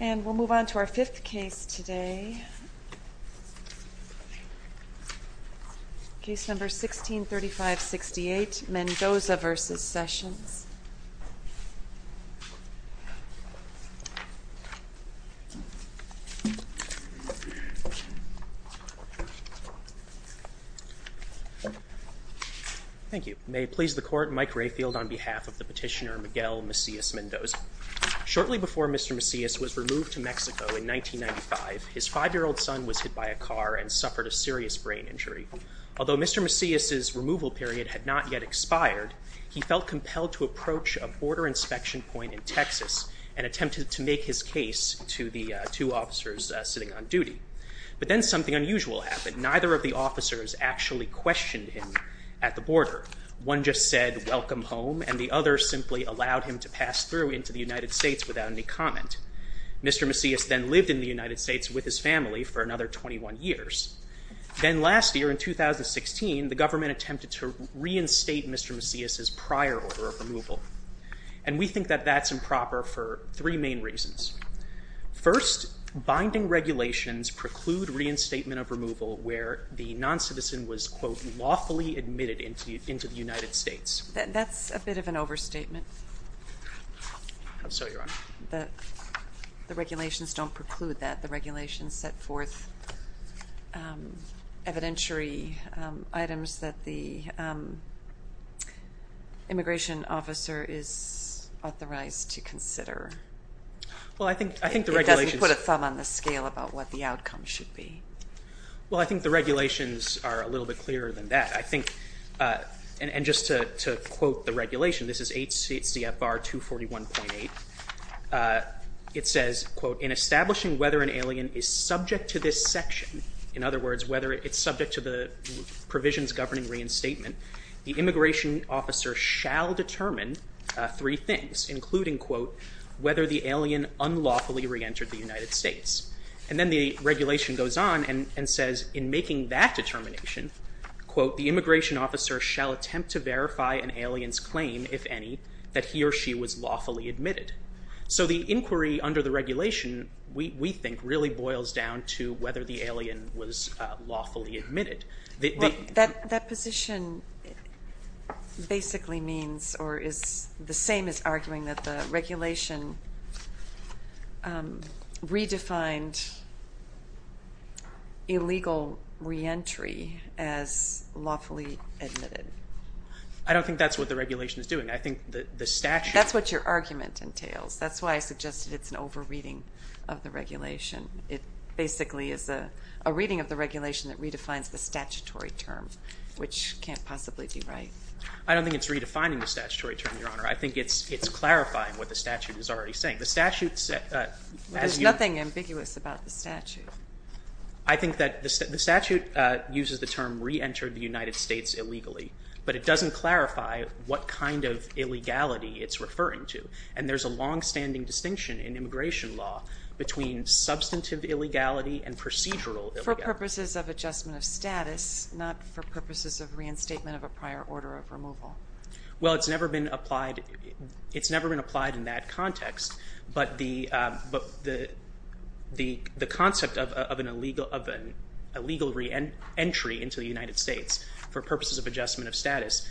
And we'll move on to our fifth case today. Case number 1635-68, Mendoza v. Sessions. Thank you. May it please the Court, Mike Rayfield on behalf of the petitioner L. Macias Mendoza. Shortly before Mr. Macias was removed to Mexico in 1995, his five-year-old son was hit by a car and suffered a serious brain injury. Although Mr. Macias' removal period had not yet expired, he felt compelled to approach a border inspection point in Texas and attempted to make his case to the two officers sitting on duty. But then something unusual happened. Neither of the officers actually questioned him at the border. One just said, welcome home, and the other simply allowed him to pass through into the United States without any comment. Mr. Macias then lived in the United States with his family for another 21 years. Then last year, in 2016, the government attempted to reinstate Mr. Macias' prior order of removal. And we think that that's improper for three main reasons. First, binding regulations preclude reinstatement of removal where the noncitizen was, quote, into the United States. That's a bit of an overstatement. So you're on. The regulations don't preclude that. The regulations set forth evidentiary items that the immigration officer is authorized to consider. Well, I think the regulations... It doesn't put a thumb on the scale about what the outcome should be. Well, I think the regulations are a little bit clearer than that. I think... And just to quote the regulation, this is HCFR 241.8. It says, quote, in establishing whether an alien is subject to this section, in other words, whether it's subject to the provisions governing reinstatement, the immigration officer shall determine three things, including, quote, whether the alien unlawfully reentered the United States. And then the regulation goes on and says, in making that determination, quote, the immigration officer shall attempt to verify an alien's claim, if any, that he or she was lawfully admitted. So the inquiry under the regulation, we think, really boils down to whether the alien was lawfully admitted. That position basically means or is the same as arguing that the regulation redefined illegal reentry as lawfully admitted. I don't think that's what the regulation is doing. I think the statute... That's what your argument entails. That's why I suggested it's an over-reading of the regulation. It basically is a reading of the regulation that redefines the statutory term, which can't possibly be right. I don't think it's clarifying what the statute is already saying. The statute... There's nothing ambiguous about the statute. I think that the statute uses the term reentered the United States illegally, but it doesn't clarify what kind of illegality it's referring to. And there's a longstanding distinction in immigration law between substantive illegality and procedural illegality. For purposes of adjustment of status, not for purposes of reinstatement of a prior order of removal. Well, it's never been applied in that context, but the concept of an illegal reentry into the United States for purposes of adjustment of status,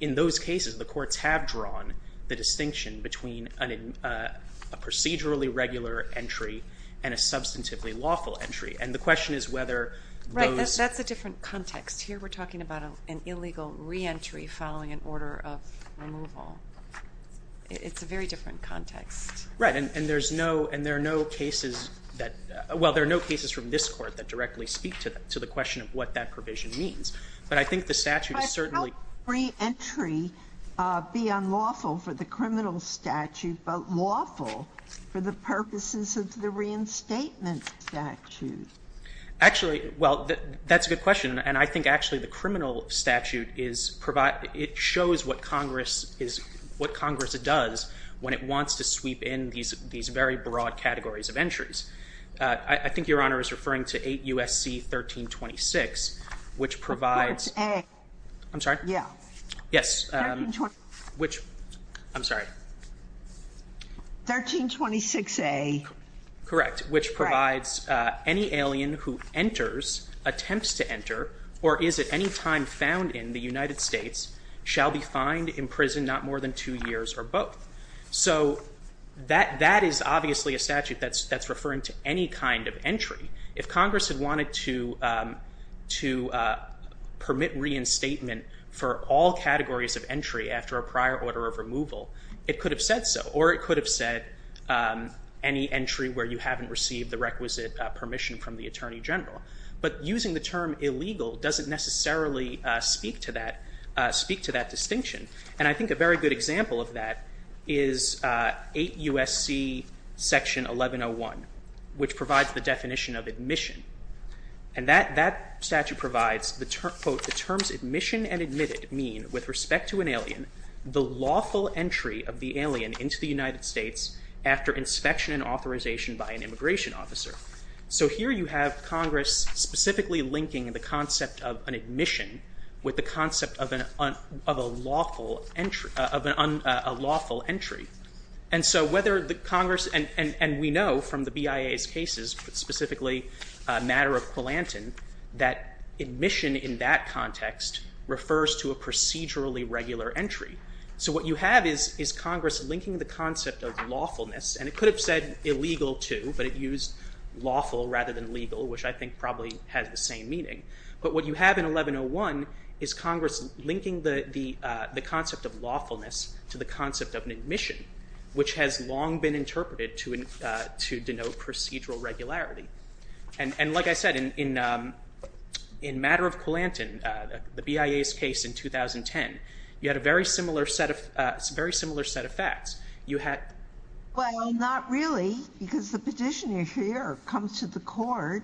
in those cases the courts have drawn the distinction between a procedurally regular entry and a substantively lawful entry. And the question is whether those... Right. That's a different context. Here we're talking about an illegal reentry following an order of removal. It's a very different context. Right. And there's no... And there are no cases that... Well, there are no cases from this Court that directly speak to the question of what that provision means. But I think the statute is certainly... How can reentry be unlawful for the criminal statute, but lawful for the purposes of the reinstatement statute? Actually, well, that's a good question. And I think actually the criminal statute is provide... It shows what Congress is... What Congress does when it wants to sweep in these very broad categories of entries. I think Your Honor is referring to 8 U.S.C. 1326, which provides... That's A. I'm sorry? Yeah. Yes. 1326. Which... I'm sorry. 1326A. Correct. Which provides any alien who enters, attempts to enter, or is at any time found in the United States shall be fined, imprisoned not more than two years, or both. So that is obviously a statute that's referring to any kind of entry. If Congress had wanted to permit reinstatement for all categories of entry after a prior order of removal, it could have said so. Or it could have said any entry where you haven't received the requisite permission from the Attorney General. But using the term illegal doesn't necessarily speak to that distinction. And I think a very good example of that is 8 U.S.C. Section 1101, which provides the definition of admission. And that statute provides, quote, the terms admission and admitted mean, with respect to an alien, the lawful entry of the alien into the United States after inspection and authorization by an immigration officer. So here you have Congress specifically linking the concept of an admission with the concept of a lawful entry. And so whether the Congress... And we know from the BIA's cases, but specifically a matter of Quilanton, that admission in that context refers to a procedurally regular entry. So what you have is Congress linking the concept of lawfulness, and it could have said illegal too, but it used lawful rather than legal, which I think probably has the same meaning. But what you have in 1101 is Congress linking the concept of lawfulness to the concept of an admission, which has long been interpreted to denote procedural regularity. And like I said, in matter of Quilanton, the BIA's case in 2010, you had a very similar set of facts. You had... Well, not really, because the petitioner here comes to the court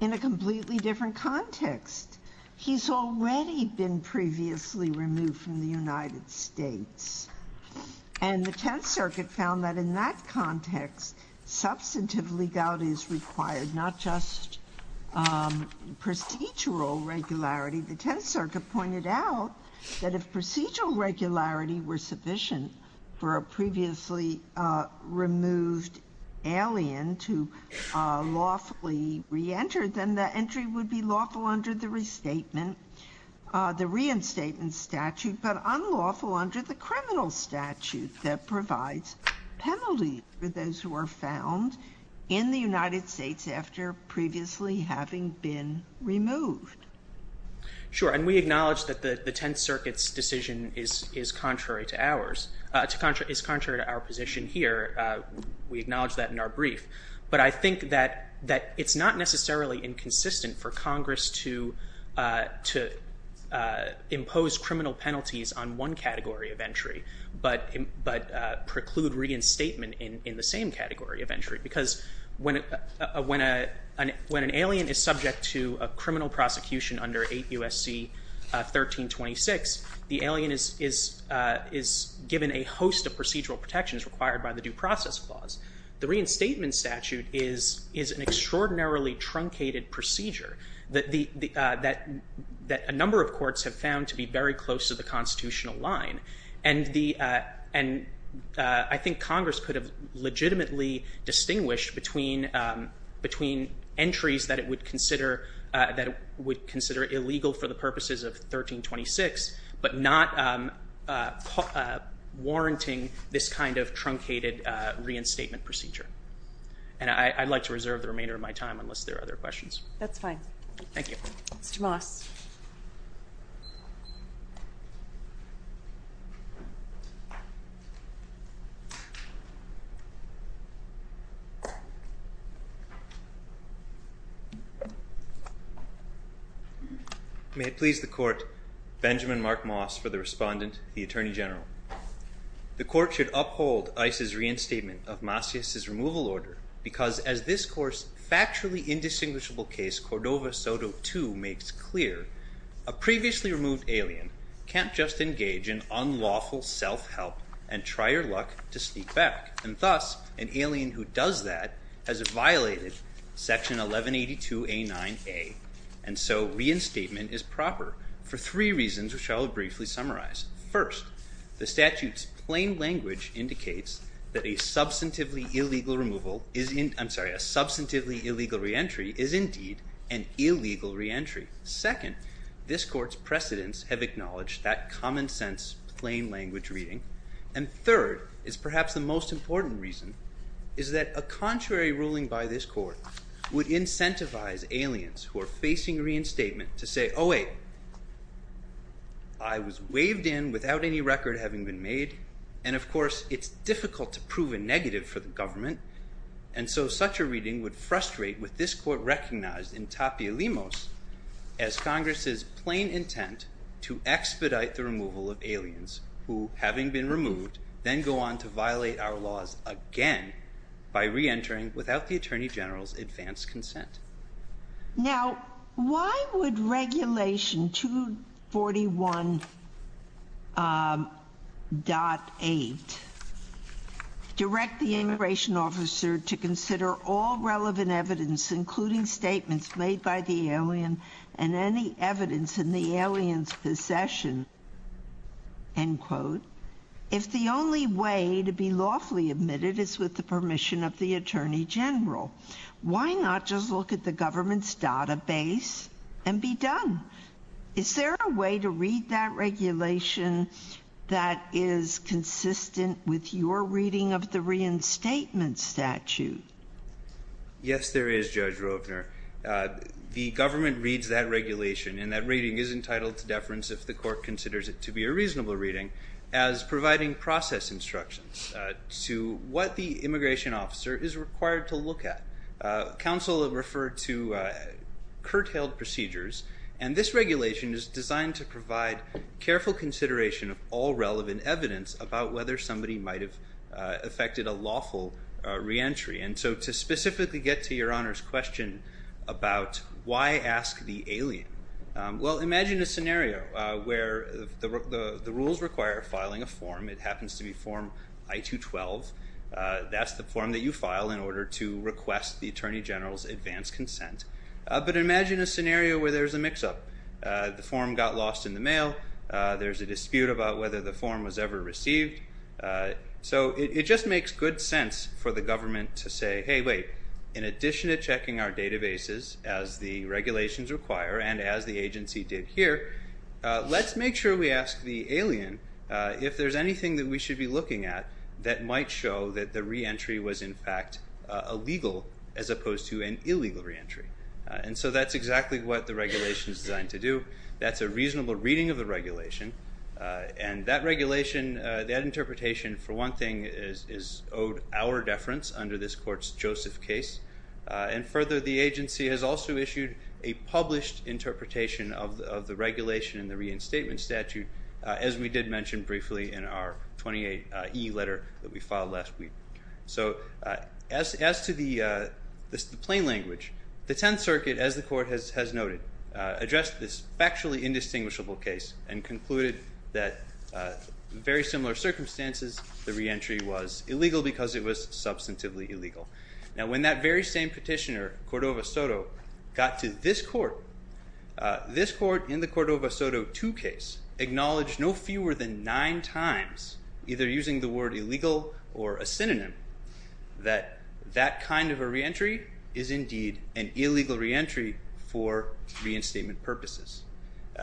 in a completely different context. He's already been previously removed from the United States. And the testimony of the 10th Circuit found that in that context, substantive legality is required, not just procedural regularity. The 10th Circuit pointed out that if procedural regularity were sufficient for a previously removed alien to lawfully re-enter, then the entry would be lawful under the restatement, the reinstatement statute, but unlawful under the criminal statute that provides penalty for those who are found in the United States after previously having been removed. Sure. And we acknowledge that the 10th Circuit's decision is contrary to ours, is contrary to our position here. We acknowledge that in our brief. But I think that it's not necessarily inconsistent for Congress to impose criminal penalties on one category of entry, but it preclude reinstatement in the same category of entry. Because when an alien is subject to a criminal prosecution under 8 U.S.C. 1326, the alien is given a host of procedural protections required by the Due Process Clause. The reinstatement statute is an extraordinarily truncated procedure that a number of courts have found to be very close to the constitutional line. And I think Congress could have legitimately distinguished between entries that it would consider illegal for the purposes of 1326, but not warranting this kind of truncated reinstatement procedure. And I'd like to reserve the remainder of my time unless there are other questions. That's fine. Thank you. Mr. Moss. May it please the Court, Benjamin Mark Moss for the Respondent, the Attorney General. The Court should uphold ICE's reinstatement of Masias's removal order because as this court's factually indistinguishable case Cordova-Soto 2 makes clear, a previously removed alien can't just engage in unlawful self-help and try your luck to sneak back. And thus, an alien who does that has violated Section 1182A9A. And so reinstatement is proper for three reasons which I will briefly summarize. First, the statute's plain language indicates that a substantively illegal reentry is indeed an illegal reentry. Second, this court's precedents have acknowledged that common sense plain language reading. And third is perhaps the most important reason is that a contrary ruling by this court would incentivize aliens who are facing reinstatement to say, oh wait, I was waived in without any record having been made. And of course, it's difficult to prove a negative for the government. And so such a reading would frustrate with this court recognized in Tapielimos as Congress's plain intent to expedite the removal of aliens who, having been removed, then go on to violate our laws again by reentering without the Attorney General's advanced consent. Now, why would Regulation 241.8 direct the immigration officer to consider all relevant evidence including statements made by the alien and any evidence in the alien's possession, end quote, if the only way to be lawfully admitted is with the permission of the Attorney General? Why not just look at the government's database and be done? Is there a way to read that regulation that is consistent with your reading of the reinstatement statute? Yes there is, Judge Rovner. The government reads that regulation and that reading is entitled to deference if the court considers it to be a reasonable reading as providing process instructions to what the immigration officer is required to look at. Council referred to curtailed procedures, and this regulation is designed to provide careful consideration of all relevant evidence about whether somebody might have affected a lawful reentry. And so to specifically get to Your Honor's question about why ask the alien, well, imagine a scenario where the rules require filing a form. It happens to be Form I-212. That's the form that you file in order to request the Attorney General's advanced consent. But imagine a scenario where there's a mix-up. The form got lost in the mail. There's a dispute about whether the form was ever received. So it just makes good sense for the government to say, hey, wait, in addition to checking our databases as the regulations require and as the agency did here, let's make sure we ask the alien if there's anything that we should be looking at that might show that the reentry was in fact illegal as opposed to an illegal reentry. And so that's exactly what the regulation is designed to do. That's a reasonable reading of the regulation. And that regulation, that interpretation, for one thing, is owed our deference under this court's Joseph case. And further, the agency has also issued a reinterpretation of the regulation in the reinstatement statute, as we did mention briefly in our 28E letter that we filed last week. So as to the plain language, the Tenth Circuit, as the court has noted, addressed this factually indistinguishable case and concluded that in very similar circumstances, the reentry was illegal because it was substantively This court, in the Cordova-Soto 2 case, acknowledged no fewer than nine times, either using the word illegal or a synonym, that that kind of a reentry is indeed an illegal reentry for reinstatement purposes.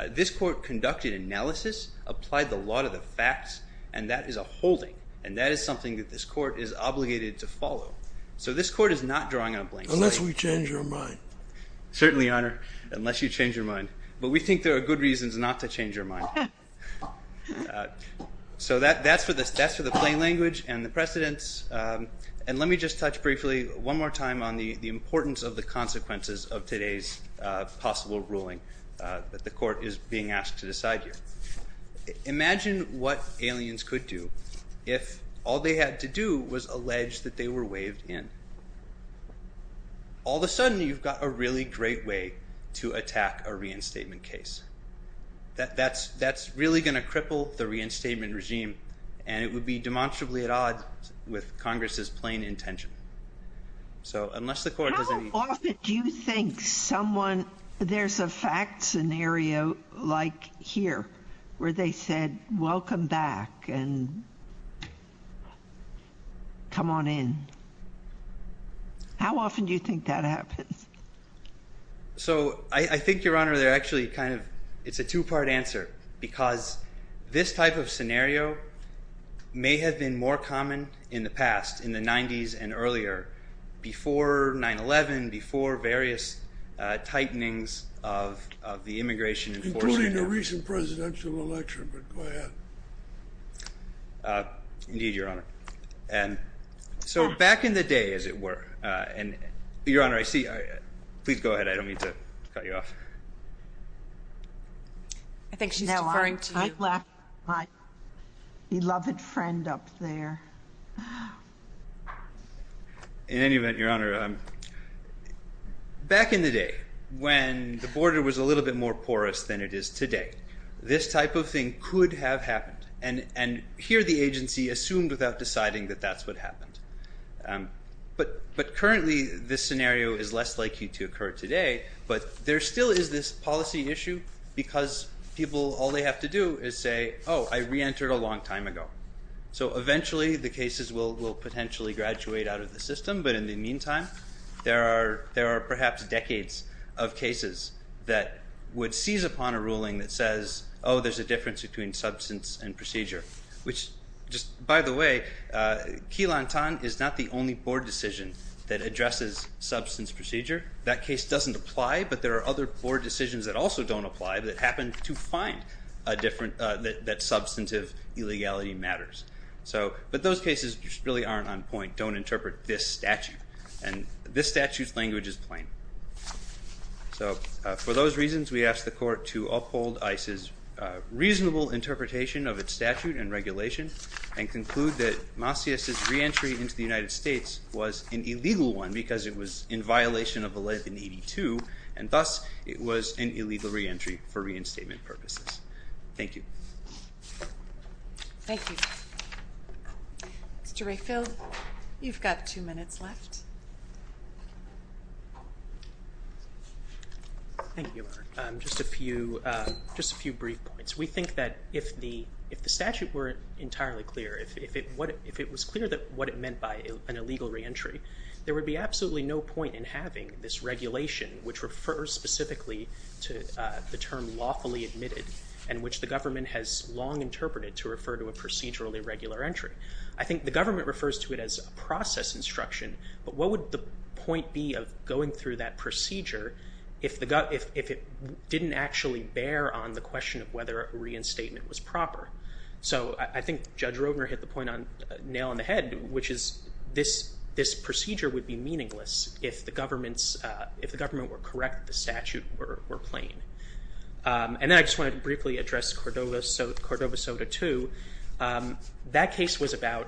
This court conducted analysis, applied the law to the facts, and that is a holding. And that is something that this court is obligated to follow. So this court is not drawing a blank slate. Unless we change our mind. Certainly, Your Honor, unless you change your mind. But we think there are good reasons not to change your mind. So that's for the plain language and the precedence. And let me just touch briefly one more time on the importance of the consequences of today's possible ruling that the court is being asked to decide here. Imagine what aliens could do if all they had to do was allege that they were waived in. All of a sudden, you've got a really great way to attack a reinstatement case. That's really going to cripple the reinstatement regime. And it would be demonstrably at odds with Congress's plain intention. So unless the court doesn't... How often do you think someone, there's a fact scenario like here, where they said, welcome back and come on in. How often do you think that happens? So I think, Your Honor, they're actually kind of, it's a two-part answer because this type of scenario may have been more common in the past, in the 90s and earlier, before 9-11, before various tightenings of the immigration enforcement. Including the recent presidential election, but go ahead. Indeed, Your Honor. And so back in the day, as it were, and Your Honor, I see, please go ahead. I don't mean to cut you off. I think she's referring to you. No, I'm talking about my beloved friend up there. In any event, Your Honor, back in the day, when the border was a little bit more porous than it is today, this type of thing could have happened. And here, the agency assumed without deciding that that's what happened. But currently, this scenario is less likely to occur today, but there still is this policy issue because people, all they have to do is say, oh, I reentered a long time ago. So eventually, the cases will potentially graduate out of the system, but in the meantime, there are perhaps decades of cases that would seize upon a ruling that says, oh, there's a difference between substance and procedure. Which just, by the way, Key Lantan is not the only board decision that addresses substance procedure. That case doesn't apply, but there are other board decisions that also don't apply that happen to find that substantive illegality matters. But those cases just really aren't on point. They don't interpret this statute, and this statute's language is plain. So for those reasons, we ask the court to uphold ICE's reasonable interpretation of its statute and regulation, and conclude that Macias' reentry into the United States was an illegal one because it was in violation of the law in 82, and thus, it was an illegal reentry for reinstatement purposes. Thank you. Thank you. Mr. Rayfield, you've got two minutes left. Thank you, Mark. Just a few brief points. We think that if the statute were entirely clear, if it was clear what it meant by an illegal reentry, there would be absolutely no point in having this regulation which refers specifically to the term lawfully admitted, and which the government has long interpreted to refer to a procedurally regular entry. I think the government refers to it as a process instruction, but what would the point be of going through that procedure if it didn't actually bear on the question of whether reinstatement was proper? So I think Judge Roedner hit the point on nail on the head, which is this procedure would be meaningless if the government were correct, the statute were plain. And then I just wanted to briefly address Cordova Soda 2. That case was about,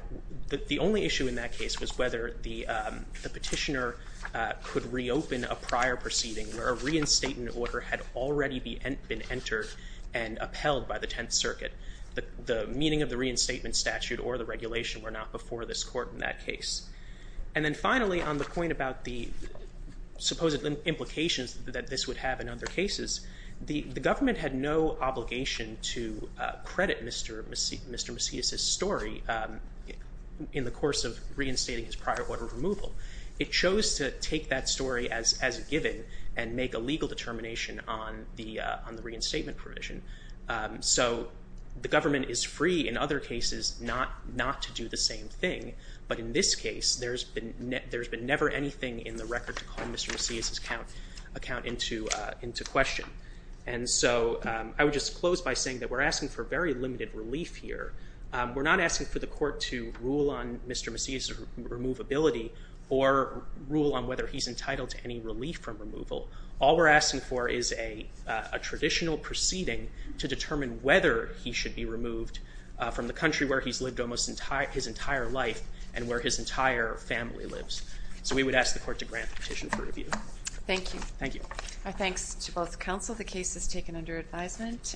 the only issue in that case was whether the petitioner could reopen a prior proceeding where a reinstatement order had already been entered and upheld by the Tenth Circuit. The meaning of the reinstatement statute or the regulation were not before this court in that case. And then finally, on the point about the supposed implications that this would have in other cases, the government had no obligation to credit Mr. Macias' story in the course of reinstating his prior order of removal. It chose to take that story as a given and make a legal determination on the reinstatement provision. So the government is free in other cases not to do the same thing, but in this case there's been never anything in the record to call Mr. Macias' account into question. And so I would just close by saying that we're asking for very limited relief here. We're not asking for the court to rule on Mr. Macias' removability or rule on whether he's entitled to any relief from removal. All we're asking for is a traditional proceeding to determine whether he should be removed from the country where he's lived almost his entire life and where his entire family lives. So we would ask the court to grant the petition for review. Thank you. Thank you. Our thanks to both counsel. The case is taken under advisement.